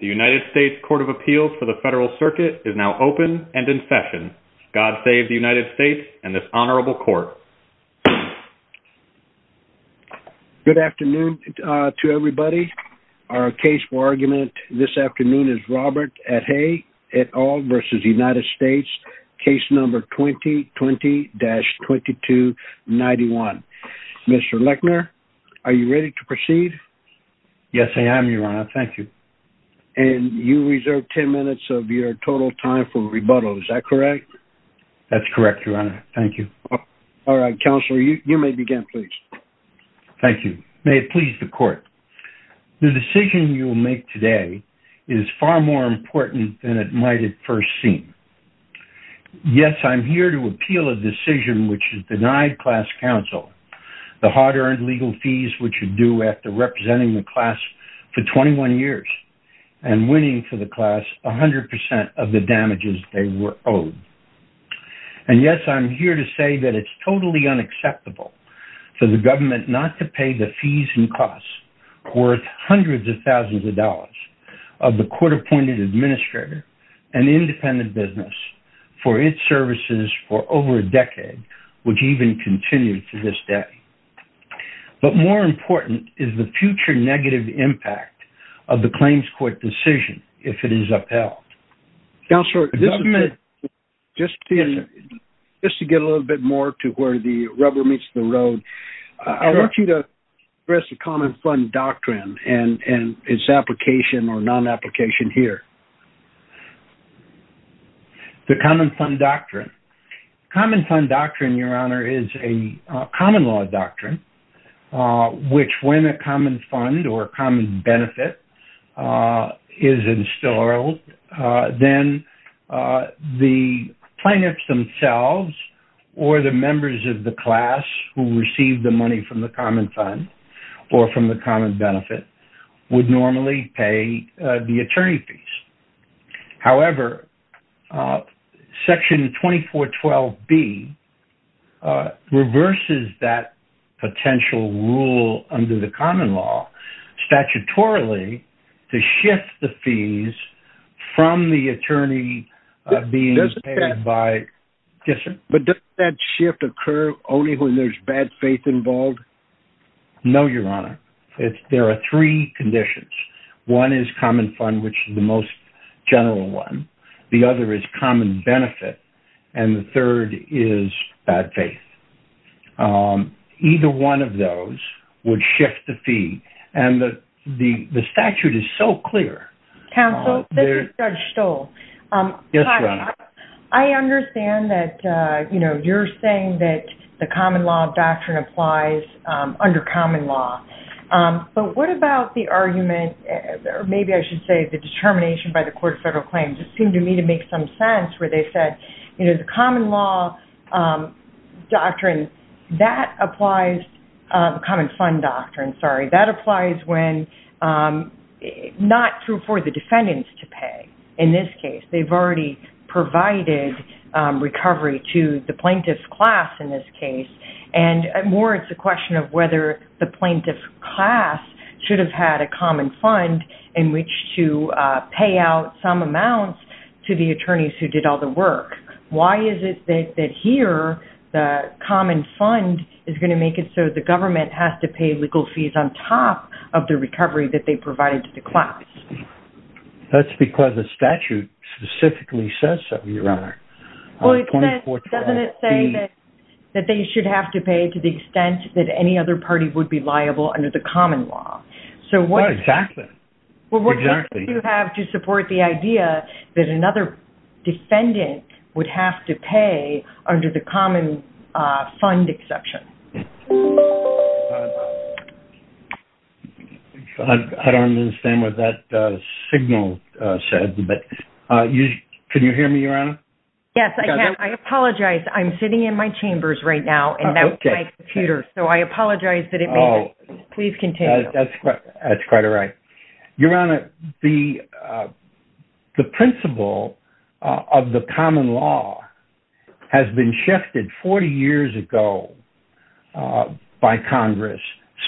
The United States Court of Appeals for the Federal Circuit is now open and in session. God save the United States and this Honorable Court. Good afternoon to everybody. Our case for argument this afternoon is Robert Athey et al. v. United States, case number 2020-2291. Mr. Lechner, are you ready to proceed? Yes, I am, Your Honor. Thank you. And you reserve 10 minutes of your total time for rebuttal. Is that correct? That's correct, Your Honor. Thank you. All right, Counselor, you may begin, please. Thank you. May it please the Court. The decision you will make today is far more important than it might at first seem. Yes, I'm here to appeal a decision which has denied class counsel the hard-earned legal fees which are due after representing the class for 21 years and winning for the class 100 percent of the damages they were owed. And yes, I'm here to say that it's totally unacceptable for the government not to pay the fees and costs worth hundreds of thousands of dollars of the court-appointed administrator and independent business for its services for over a decade, which even continues to this day. But more important is the future negative impact of the claims court decision if it is upheld. Counselor, just to get a little bit more to where the rubber meets the road, I want you to address the common fund doctrine and its application or non-application here. The common fund doctrine. Common fund doctrine, Your Honor, is a common law doctrine which, when a common fund or common benefit is installed, then the plaintiffs themselves or the members of the class who receive the money from the common fund or from the common benefit would normally pay the attorney fees. However, Section 2412B reverses that potential rule under the common law statutorily to shift the fees from the attorney being paid by... But doesn't that shift occur only when there's bad faith involved? No, Your Honor. There are three conditions. One is common fund, which is the most general one. The other is common benefit. And the third is bad faith. Either one of those would shift the fee. And the statute is so clear. Counsel, this is Judge Stoll. Yes, Your Honor. I understand that you're saying that the common law doctrine applies under common law. But what about the argument, or maybe I should say the determination by the Court of Federal Claims? It seemed to me to make some sense where they said, you know, the common law doctrine, that applies, the common fund doctrine, sorry, that applies when not true for the defendants to pay. In this case, they've already provided recovery to the plaintiff's class in this case. And more, it's a question of whether the plaintiff's class should have had a common fund in which to pay out some amounts to the attorneys who did all the work. Why is it that here the common fund is going to make it so the government has to pay legal fees on top of the recovery that they provided to the class? That's because the statute specifically says so, Your Honor. Well, it says, doesn't it say that they should have to pay to the extent that any other party would be liable under the common law? So what exactly? Well, what do you have to support the idea that another defendant would have to pay under the common fund exception? I don't understand what that signal said, but can you hear me, Your Honor? Yes, I can. I apologize. I'm sitting in my chambers right now, and that's my computer. So I apologize that it made it. Please continue. That's quite all right. Your Honor, the principle of the common law has been shifted 40 years ago by Congress.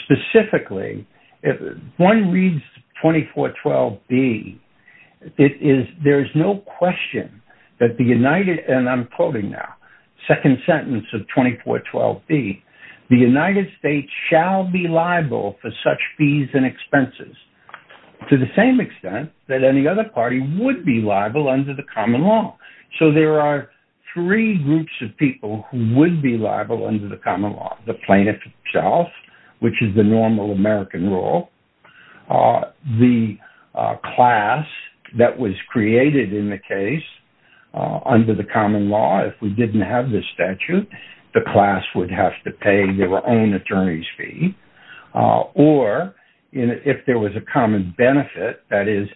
Specifically, if one reads 2412B, there is no question that the United, and I'm quoting now, second sentence of 2412B, the United States shall be liable for such fees and expenses to the same extent that any other party would be liable under the common law. So there are three groups of people who would be liable under the common law, the plaintiff himself, which is the normal American rule, the class that was created in the case under the common law. If we didn't have this statute, the class would have to pay their own attorney's fee, or if there was a common benefit, that is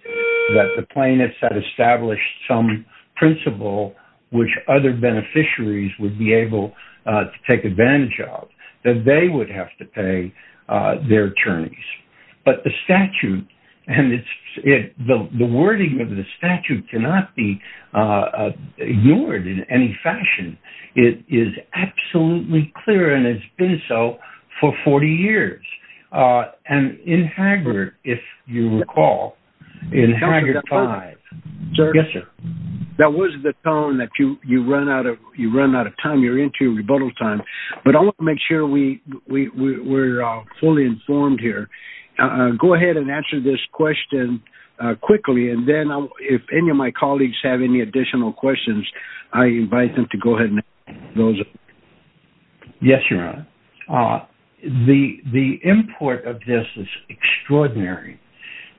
that the plaintiff had established some principle which other beneficiaries would be able to take advantage of, that they would have to pay their attorneys. But the statute, and the wording of the statute cannot be ignored in any fashion. It is absolutely clear, and it's been so for 40 years. And in Haggard, if you recall, in Haggard 5. Yes, sir. That was the tone that you run out of time. You're into your rebuttal time. But I want to make sure we're fully informed here. Go ahead and answer this question quickly. And then if any of my colleagues have any additional questions, I invite them to go ahead and ask those. Yes, Your Honor. The import of this is extraordinary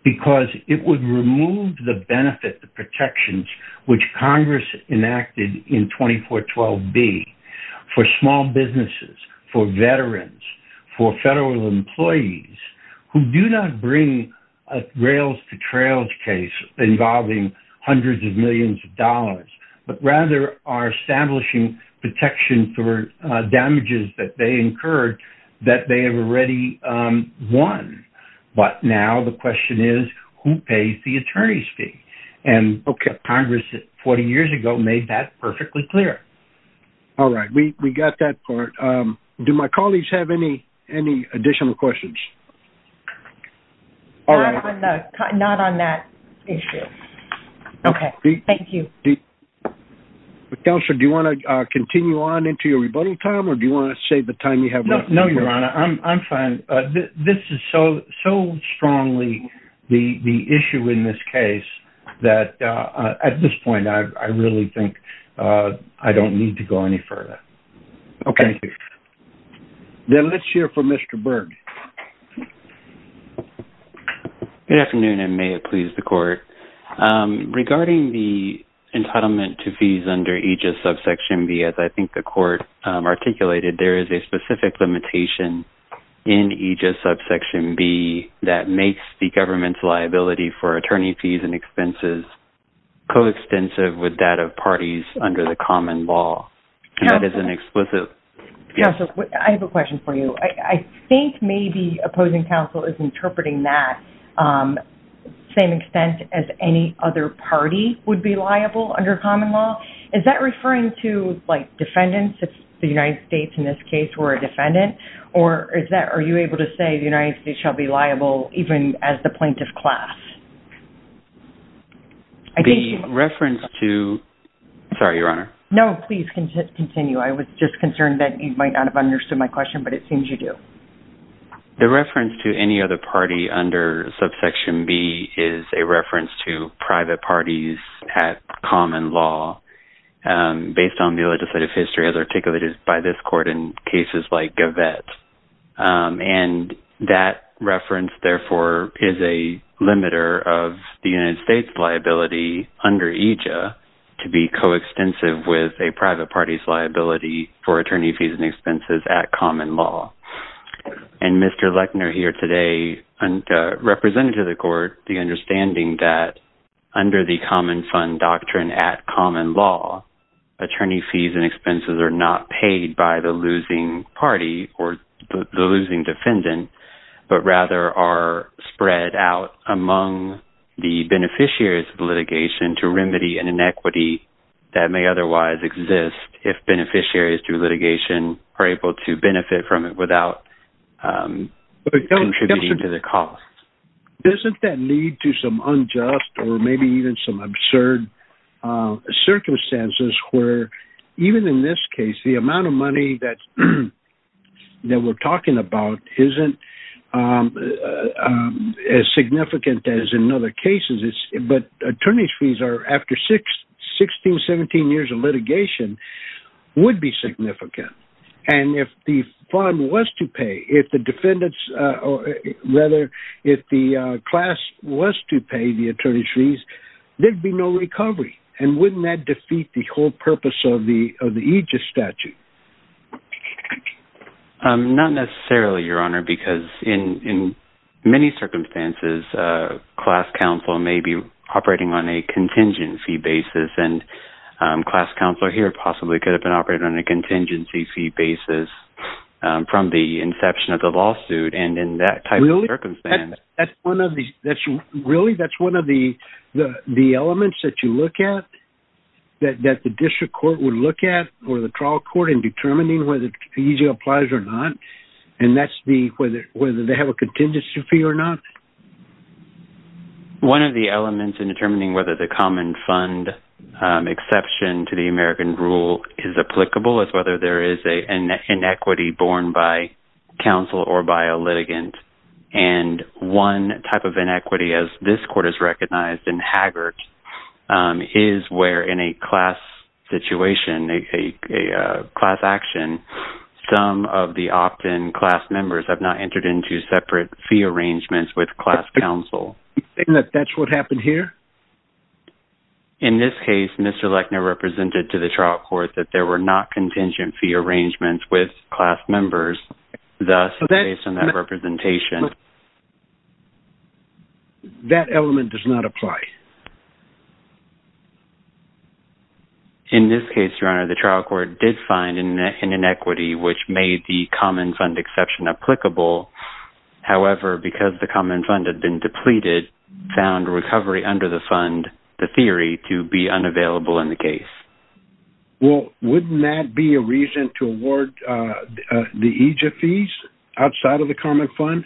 because it would remove the benefit, the protections which Congress enacted in 2412B for small businesses, for veterans, for federal employees who do not bring a rails to trails case involving hundreds of millions of dollars, but rather are establishing protection for damages that they incurred that they have already won. But now the question is, who pays the attorney's fee? And Congress, 40 years ago, made that perfectly clear. All right, we got that part. Do my colleagues have any additional questions? Not on that issue. Okay, thank you. Counselor, do you want to continue on into your rebuttal time, or do you want to save the time you have? No, Your Honor, I'm fine. This is so strongly the issue in this case that at this point, I really think I don't need to go any further. Okay. Then let's hear from Mr. Berg. Good afternoon, and may it please the Court. Regarding the entitlement to fees under Aegis subsection B, as I think the Court articulated, there is a specific limitation in Aegis subsection B that makes the government's liability for attorney fees and expenses coextensive with that of parties under the common law. Counselor, I have a question for you. I think maybe opposing counsel is interpreting that the same extent as any other party would be liable under common law. Is that referring to defendants? If the United States, in this case, were a defendant? Or are you able to say the United States shall be liable even as the plaintiff class? The reference to… Sorry, Your Honor. No, please continue. I was just concerned that you might not have understood my question, but it seems you do. The reference to any other party under subsection B is a reference to private parties at common law based on the legislative history as articulated by this Court in cases like Gavette. And that reference, therefore, is a limiter of the United States' liability under Aegis to be coextensive with a private party's liability for attorney fees and expenses at common law. And Mr. Lechner here today represented to the Court the understanding that under the common fund doctrine at common law, attorney fees and expenses are not paid by the losing party or the losing defendant, but rather are spread out among the beneficiaries of an equity that may otherwise exist if beneficiaries through litigation are able to benefit from it without contributing to the cost. Doesn't that lead to some unjust or maybe even some absurd circumstances where even in this case, the amount of money that we're talking about isn't as significant as in other cases. But attorney's fees are, after 16, 17 years of litigation, would be significant. And if the fund was to pay, if the defendants or rather if the class was to pay the attorney's fees, there'd be no recovery. And wouldn't that defeat the whole purpose of the Aegis statute? Not necessarily, Your Honor, because in many circumstances, class counsel may be operating on a contingency basis and class counsel here possibly could have been operating on a contingency fee basis from the inception of the lawsuit. And in that type of circumstance. Really? That's one of the elements that you look at that the district court would look at or the trial court in determining whether the Aegis applies or not. And that's whether they have a contingency fee or not. One of the elements in determining whether the common fund exception to the American rule is applicable is whether there is an inequity borne by counsel or by a litigant. And one type of inequity as this court has recognized in Haggard is where in a class situation, a class action, some of the opt-in class members have not entered into separate fee arrangements with class counsel. That's what happened here? In this case, Mr. Lechner represented to the trial court that there were not contingent fee arrangements with class members. Thus, based on that representation. That element does not apply. In this case, your honor, the trial court did find in an inequity which made the common fund exception applicable. However, because the common fund had been depleted, found recovery under the fund, the theory to be unavailable in the case. Well, wouldn't that be a reason to award the Aegis fees outside of the common fund?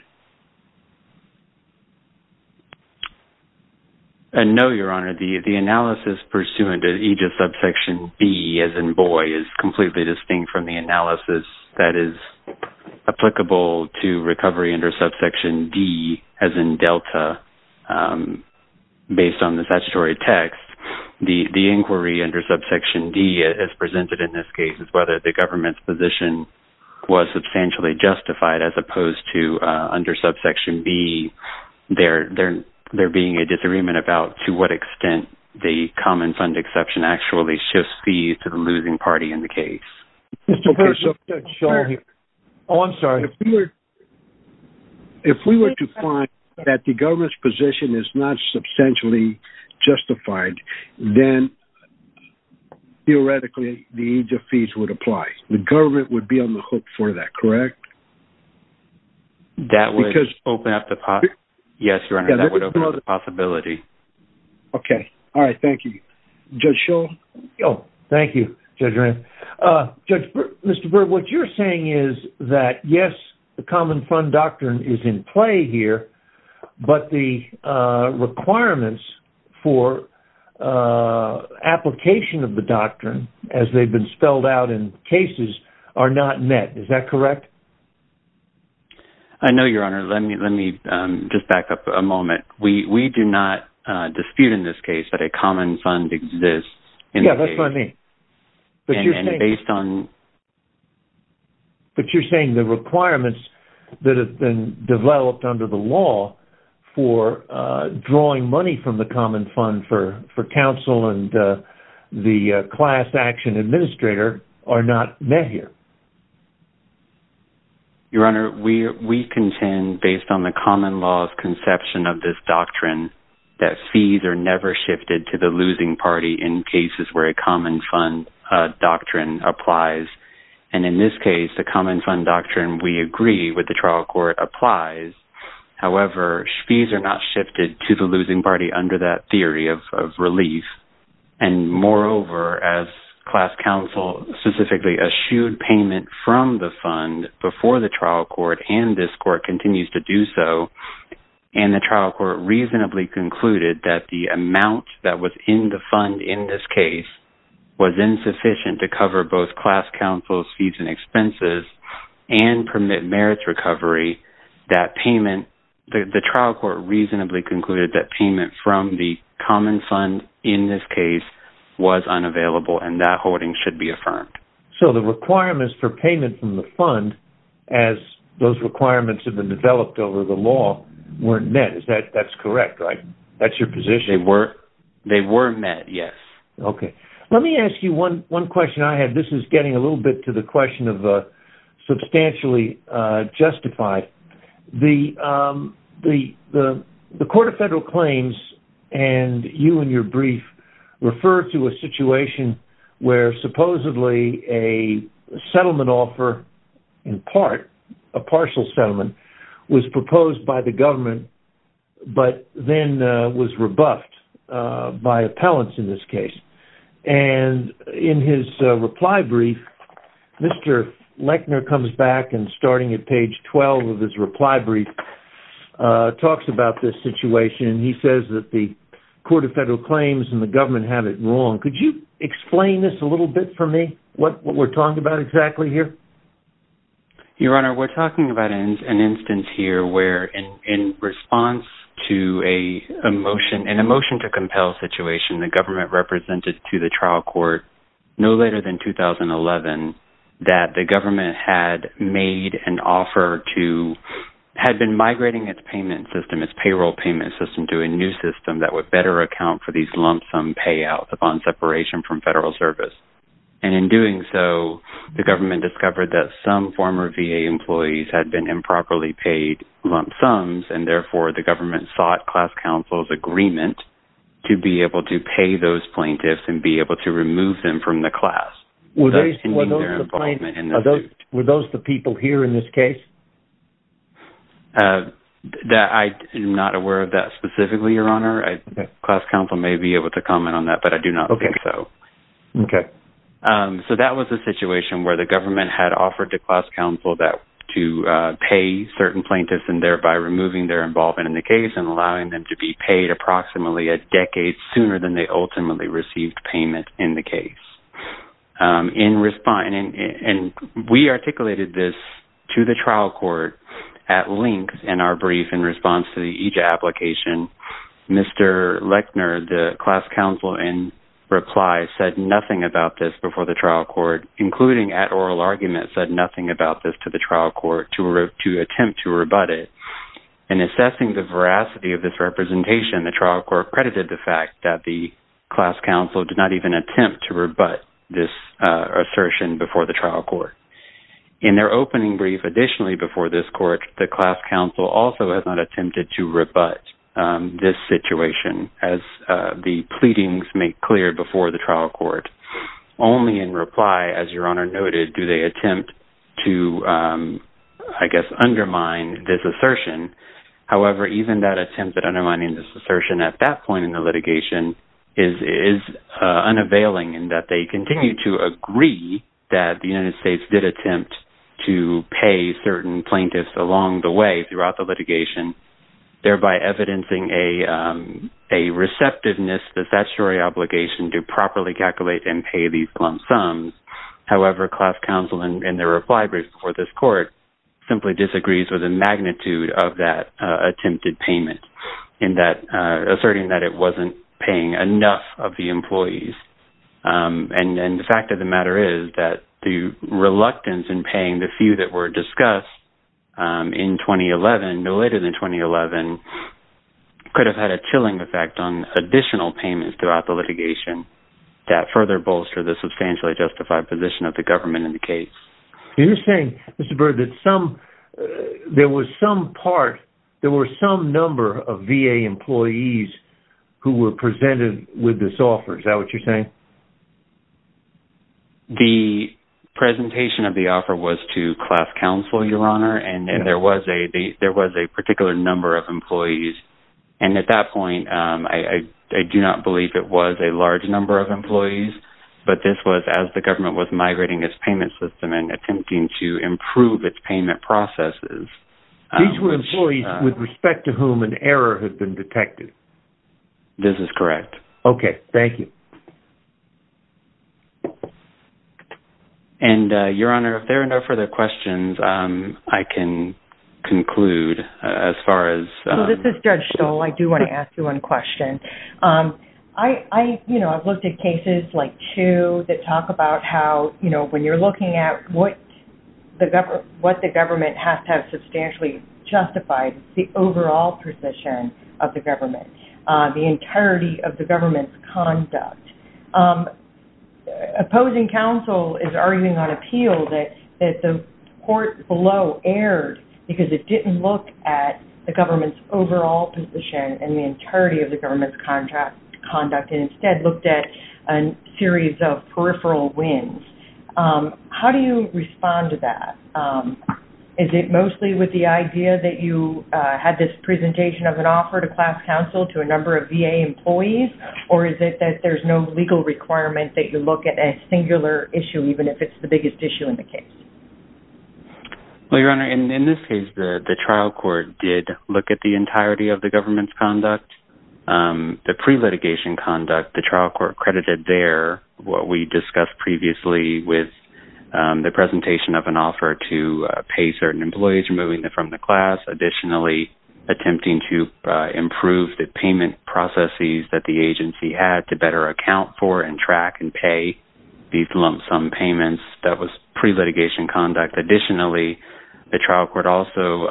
No, your honor. The analysis pursuant to Aegis subsection B as in Boye is completely distinct from the analysis that is applicable to recovery under subsection D as in Delta based on the statutory text. The inquiry under subsection D as presented in this case is whether the government's position under subsection B, there being a disagreement about to what extent the common fund exception actually shifts fees to the losing party in the case. Mr. Perkins, I'm sorry. If we were to find that the government's position is not substantially justified, then theoretically, the Aegis fees would apply. The government would be on the hook for that, correct? Yes, your honor, that would open up the possibility. Okay. All right. Thank you. Judge Shull. Thank you, Judge Reynolds. Judge, Mr. Berg, what you're saying is that, yes, the common fund doctrine is in play here, but the requirements for application of the doctrine as they've been spelled out in cases are not met. Is that correct? I know, your honor. Let me just back up a moment. We do not dispute in this case that a common fund exists. Yeah, that's what I mean, but you're saying the requirements that have been developed under the law for drawing money from the common fund for counsel and the class action administrator are not met here. Your honor, we contend based on the common law's conception of this doctrine that fees are never shifted to the losing party in cases where a common fund doctrine applies. In this case, the common fund doctrine we agree with the trial court applies. However, fees are not shifted to the losing party under that theory of relief. Moreover, as class counsel specifically eschewed payment from the fund before the trial court and this court continues to do so, and the trial court reasonably concluded that the amount that was in the fund in this case was insufficient to cover both class counsel's fees and expenses and permit merits recovery, the trial court reasonably concluded that was unavailable and that hoarding should be affirmed. So the requirements for payment from the fund as those requirements have been developed over the law weren't met. That's correct, right? That's your position? They were met, yes. Okay. Let me ask you one question I had. This is getting a little bit to the question of substantially justified. The Court of Federal Claims and you in your brief refer to a situation where supposedly a settlement offer in part, a partial settlement was proposed by the government, but then was rebuffed by appellants in this case. And in his reply brief, Mr. Lechner comes back and starting at page 12 of his reply brief talks about this situation. He says that the Court of Federal Claims and the government had it wrong. Could you explain this a little bit for me, what we're talking about exactly here? Your Honor, we're talking about an instance here where in response to an emotion to compel situation, the government represented to the trial court no later than 2011 that the government had made an offer to, had been migrating its payment system, its payroll payment system to a new system that would better account for these lump sum payouts upon separation from federal service. And in doing so, the government discovered that some former VA employees had been improperly agreement to be able to pay those plaintiffs and be able to remove them from the class. Were those the people here in this case? I am not aware of that specifically, Your Honor. Class counsel may be able to comment on that, but I do not think so. So that was a situation where the government had offered the class counsel that to pay certain plaintiffs and thereby removing their involvement in the case and allowing them to be approximately a decade sooner than they ultimately received payment in the case. And we articulated this to the trial court at length in our brief in response to each application. Mr. Lechner, the class counsel in reply said nothing about this before the trial court, including at oral argument, said nothing about this to the trial court to attempt to rebut it. In assessing the veracity of this representation, the trial court credited the fact that the class counsel did not even attempt to rebut this assertion before the trial court. In their opening brief additionally before this court, the class counsel also has not attempted to rebut this situation as the pleadings make clear before the trial court. Only in reply, as Your Honor noted, do they attempt to, I guess, undermine this assertion. However, even that attempt at undermining this assertion at that point in the litigation is unavailing in that they continue to agree that the United States did attempt to pay certain plaintiffs along the way throughout the litigation, thereby evidencing a receptiveness, the statutory obligation to properly calculate and pay these lump sums. However, class counsel in their reply before this court simply disagrees with the magnitude of that attempted payment in that asserting that it wasn't paying enough of the employees. And the fact of the matter is that the reluctance in paying the few that were discussed in 2011, no later than 2011, could have had a chilling effect on additional payments throughout the litigation that further bolster the substantially justified position of the government in the case. You're saying, Mr. Byrd, that there was some part, there were some number of VA employees who were presented with this offer. Is that what you're saying? The presentation of the offer was to class counsel, Your Honor, and there was a particular number of employees. And at that point, I do not believe it was a large number of employees, but this was as the government was migrating its payment system and attempting to improve its payment processes. These were employees with respect to whom an error had been detected? This is correct. Okay. Thank you. And, Your Honor, if there are no further questions, I can conclude as far as... So this is Judge Stoll. I do want to ask you one question. I've looked at cases like two that talk about how when you're looking at what the government has to have substantially justified the overall position of the government, the entirety of the government's conduct. Opposing counsel is arguing on appeal that the court below erred because it didn't look at the government's overall position and the entirety of the government's conduct and instead looked at a series of peripheral wins. How do you respond to that? Is it mostly with the idea that you had this presentation of an offer to class counsel to a number of employees, but that there's no legal requirement that you look at a singular issue, even if it's the biggest issue in the case? Well, Your Honor, in this case, the trial court did look at the entirety of the government's conduct. The pre-litigation conduct, the trial court credited there what we discussed previously with the presentation of an offer to pay certain employees, removing them from the class, additionally attempting to improve the payment processes that the agency had to better account for and track and pay these lump sum payments that was pre-litigation conduct. Additionally, the trial court also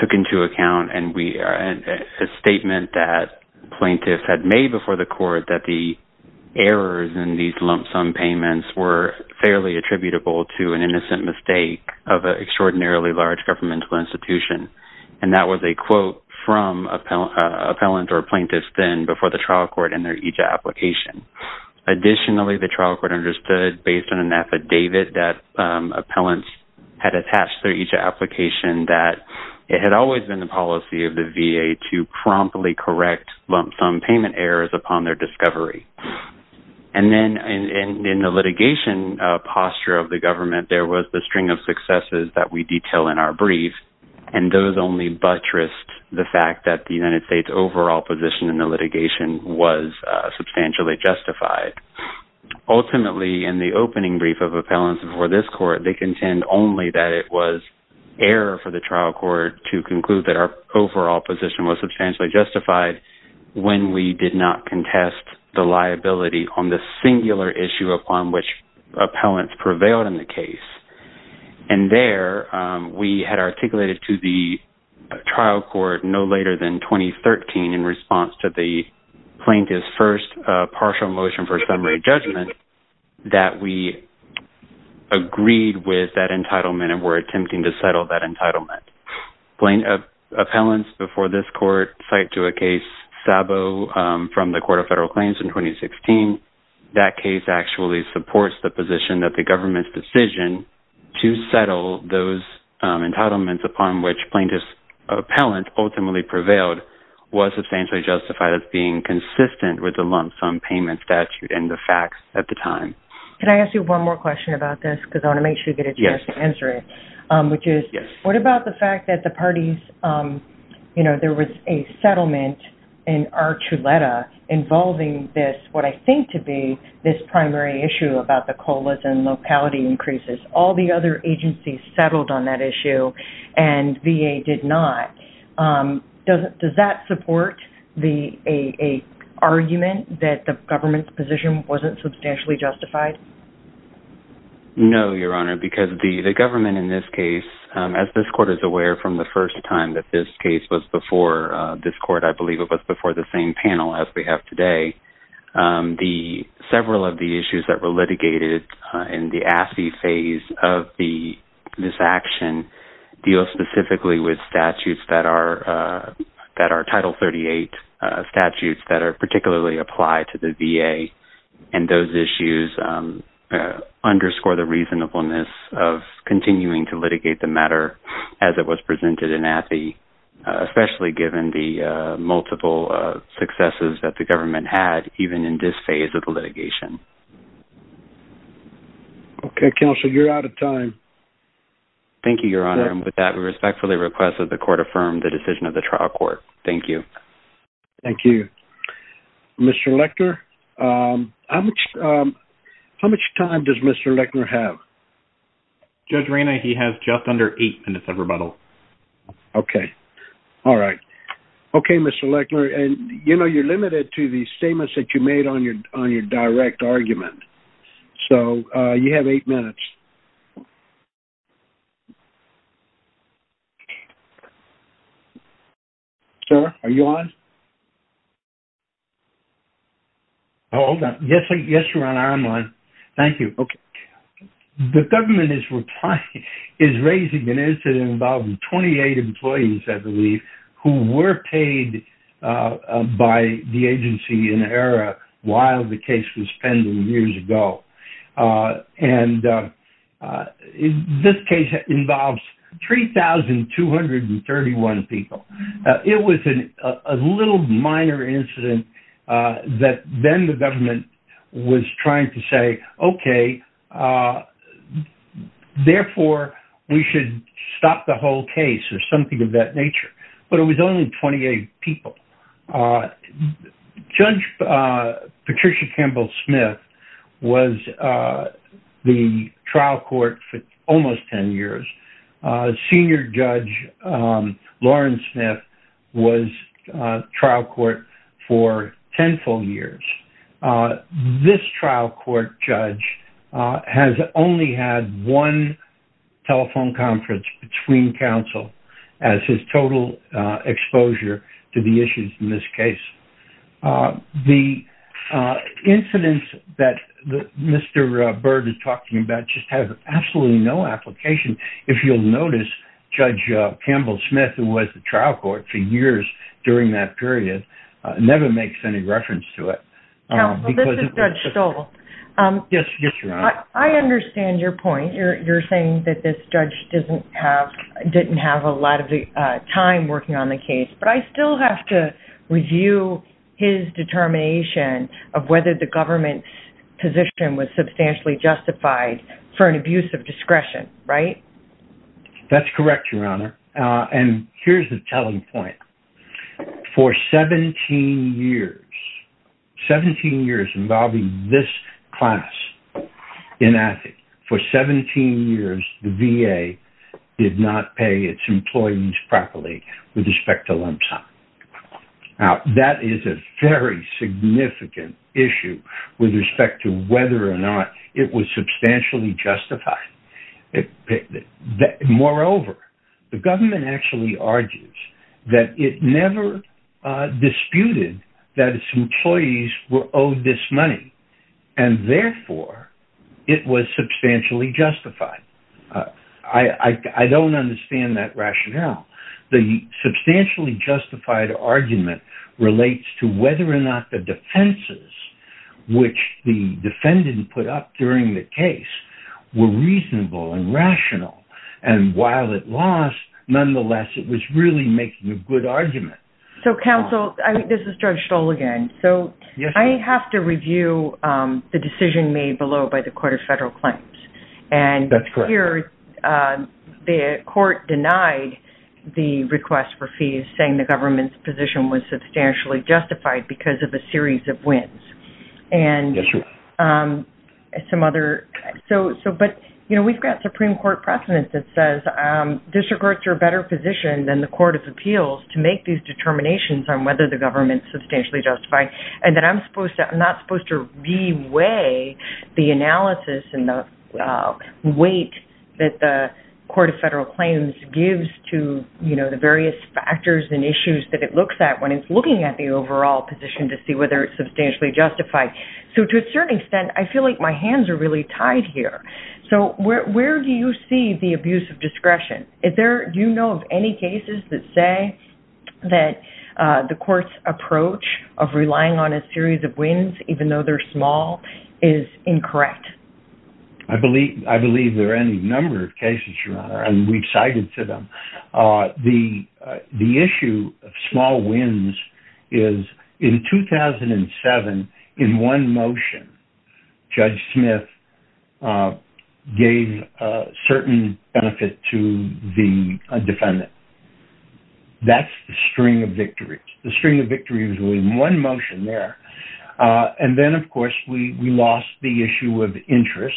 took into account a statement that plaintiffs had made before the court that the errors in these lump sum payments were fairly attributable to an innocent mistake of an institution. And that was a quote from an appellant or a plaintiff then before the trial court and their EJIA application. Additionally, the trial court understood based on an affidavit that appellants had attached their EJIA application that it had always been the policy of the VA to promptly correct lump sum payment errors upon their discovery. And then in the litigation posture of the government, there was the string of successes that we detail in our brief. And those only buttressed the fact that the United States overall position in the litigation was substantially justified. Ultimately, in the opening brief of appellants before this court, they contend only that it was error for the trial court to conclude that our overall position was substantially justified when we did not contest the liability on the singular issue upon which articulated to the trial court no later than 2013 in response to the plaintiff's first partial motion for summary judgment that we agreed with that entitlement and were attempting to settle that entitlement. Appellants before this court cite to a case Sabo from the Court of Federal Claims in 2016. That case actually supports the position that the government's decision to settle those entitlements upon which plaintiff's appellant ultimately prevailed was substantially justified as being consistent with the lump sum payment statute and the facts at the time. Can I ask you one more question about this? Because I want to make sure that it's just an answer, which is what about the fact that the parties, you know, there was a settlement in Archuleta involving this, what I think to be this primary issue about the colas and locality increases. All the other agencies settled on that issue and VA did not. Does that support the argument that the government's position wasn't substantially justified? No, Your Honor, because the government in this case, as this court is aware from the first time that this case was before this court, I believe it was before the same panel as we have today, the several of the issues that were litigated in the AFI phase of this action deal specifically with statutes that are Title 38 statutes that are particularly applied to the VA and those issues underscore the reasonableness of continuing to litigate the matter as it was presented in AFI, especially given the multiple successes that the government had even in this phase of the litigation. Okay, counsel, you're out of time. Thank you, Your Honor. And with that, we respectfully request that the court affirm the decision of the trial court. Thank you. Thank you. Mr. Lechner, how much time does Mr. Lechner have? Judge Reyna, he has just under eight minutes of rebuttal. Okay. All right. Okay, Mr. Lechner. And, you know, you're limited to the statements that you made on your direct argument. So, you have eight minutes. Sir, are you on? Oh, hold on. Yes, Your Honor, I'm on. Thank you. Okay. The government is raising an incident involving 28 employees, I believe, who were paid by the agency in error while the case was pending years ago. And this case involves 3,231 people. It was a little minor incident that then the whole case or something of that nature, but it was only 28 people. Judge Patricia Campbell Smith was the trial court for almost 10 years. Senior Judge Lauren Smith was trial court for 10 full years. This trial court judge has only had one telephone conference between counsel as his total exposure to the issues in this case. The incidents that Mr. Byrd is talking about just have absolutely no application. If you'll notice, Judge Campbell Smith who was the trial court for years during that period never makes any reference to it. Counsel, this is Judge Stoll. Yes, Your Honor. I understand your point. You're saying that this judge didn't have a lot of time working on the case, but I still have to review his determination of whether the government's position was substantially justified for an abuse of discretion, right? That's correct, Your Honor. And here's the point. For 17 years, 17 years involving this class in AFI, for 17 years, the VA did not pay its employees properly with respect to lump sum. Now, that is a very significant issue with respect to whether or not it was substantially justified. Moreover, the government actually argues that it never disputed that its employees were owed this money, and therefore, it was substantially justified. I don't understand that rationale. The substantially justified argument relates to defendants put up during the case were reasonable and rational, and while it lost, nonetheless, it was really making a good argument. So, counsel, this is Judge Stoll again. So, I have to review the decision made below by the Court of Federal Claims. And here, the court denied the request for fees saying the government's position was substantially justified because of a series of some other... So, but, you know, we've got Supreme Court precedence that says district courts are a better position than the Court of Appeals to make these determinations on whether the government's substantially justified, and that I'm supposed to... I'm not supposed to re-weigh the analysis and the weight that the Court of Federal Claims gives to, you know, the various factors and issues that it looks at when it's looking at the overall position to see whether it's substantially justified. So, to a certain extent, I feel like my hands are really tied here. So, where do you see the abuse of discretion? Is there... Do you know of any cases that say that the court's approach of relying on a series of wins, even though they're small, is incorrect? I believe there are any number of cases where, in one motion, Judge Smith gave a certain benefit to the defendant. That's the string of victories. The string of victories was in one motion there. And then, of course, we lost the issue of interest,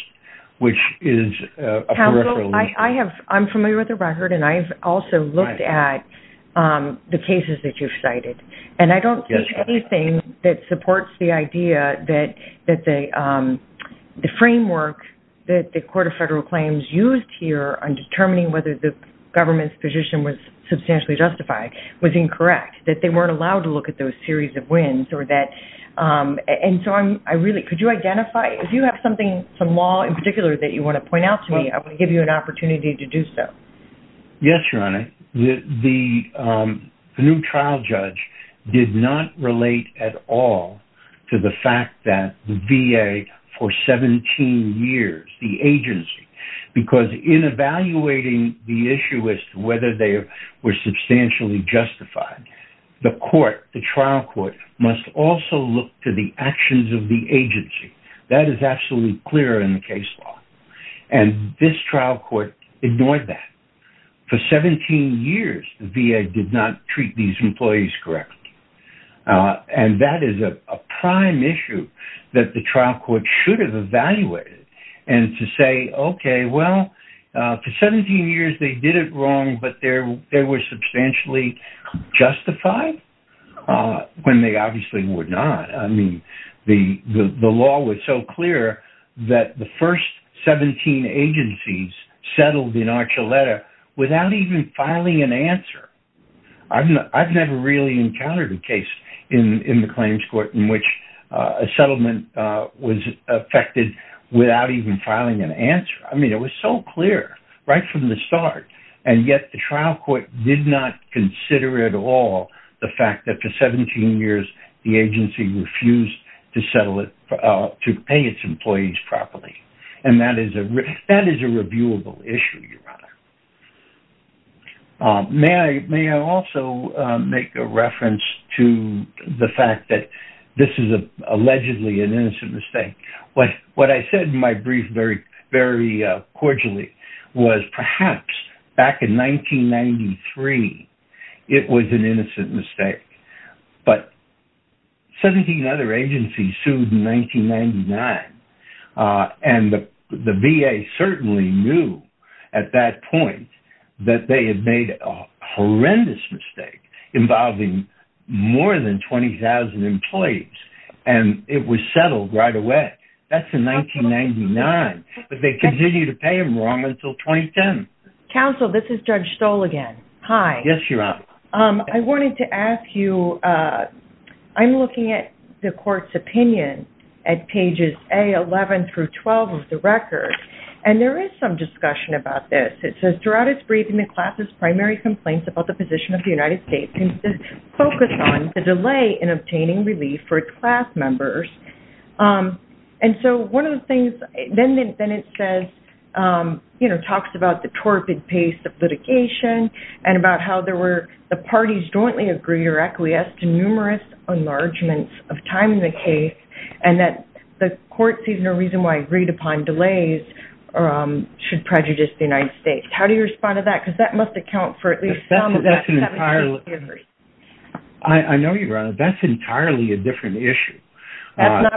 which is a peripheral issue. Counsel, I have... I'm familiar with the record, and I've also looked at the cases that you've cited, and I don't think anything that supports the idea that the framework that the Court of Federal Claims used here on determining whether the government's position was substantially justified was incorrect, that they weren't allowed to look at those series of wins or that... And so, I really... Could you identify... If you have something, some law in particular that you want to point out to me, I want to give you an opportunity to do so. Yes, Your Honor. The new trial judge did not relate at all to the fact that the VA, for 17 years, the agency... Because in evaluating the issue as to whether they were substantially justified, the court, the trial court, must also look to the actions of the agency. That is absolutely clear in the case law. And this trial court ignored that. For 17 years, the VA did not treat these employees correctly. And that is a prime issue that the trial court should have evaluated, and to say, okay, well, for 17 years, they did it wrong, but they were substantially justified, when they obviously were not. I mean, the law was so clear that the first 17 agencies settled in Archuleta without even filing an answer. I've never really encountered a case in the claims court in which a settlement was affected without even filing an answer. I mean, it was so clear, right from the start. And yet, the trial court did not consider at all the fact that for 17 years, the agency refused to settle it, to pay its employees properly. And that is a reviewable issue, Your Honor. May I also make a reference to the fact that this is allegedly an innocent mistake. What I said in my brief very cordially was perhaps back in 1993, it was an innocent mistake. But 17 other agencies sued in 1999. And the VA certainly knew at that point, that they had made a horrendous mistake involving more than 20,000 employees, and it was settled right away. That's in 1999. But they continue to pay them wrong until 2010. Counsel, this is Judge Stoll again. Hi. Yes, Your Honor. I wanted to ask you, I'm looking at the court's opinion at pages A11 through 12 of the record. And there is some discussion about this. It says, throughout its briefing, the class's primary complaints about the position of the United States focused on the delay in obtaining relief for class members. And so one of the things, then it says, you know, talks about the torpid pace of the parties jointly agree or acquiesce to numerous enlargements of time in the case, and that the court sees no reason why agreed upon delays should prejudice the United States. How do you respond to that? Because that must account for at least some of that 17 years. I know, Your Honor, that's entirely a different issue. Sorry,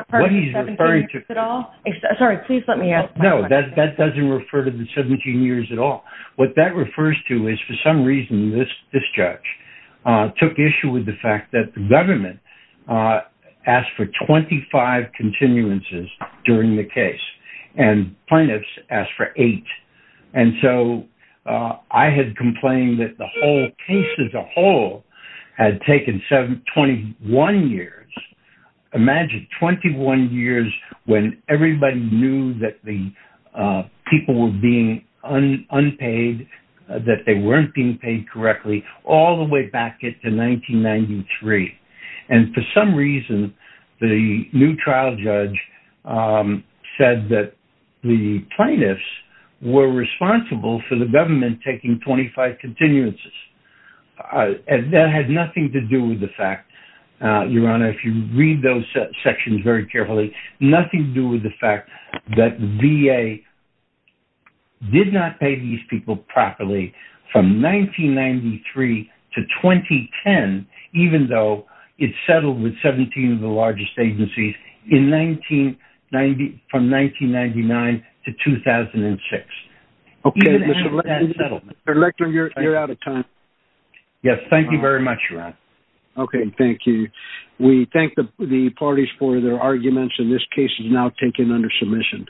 please let me ask. No, that doesn't refer to the 17 years at all. What that refers to is, for some reason, this judge took issue with the fact that the government asked for 25 continuances during the case, and plaintiffs asked for eight. And so I had complained that the whole case as a whole had taken 21 years. Imagine 21 years when everybody knew that the people were being unpaid, that they weren't being paid correctly, all the way back to 1993. And for some reason, the new trial judge said that the plaintiffs were responsible for the government taking 25 continuances. And that had nothing to do with the fact, Your Honor, if you read those sections very carefully, nothing to do with the fact that VA did not pay these people properly from 1993 to 2010, even though it settled with 17 of the largest agencies from 1999 to 2006. Okay, Mr. Lickner, you're out of time. Yes, thank you very much, Your Honor. Okay, thank you. We thank the parties for their arguments, and this case is now taken under submission.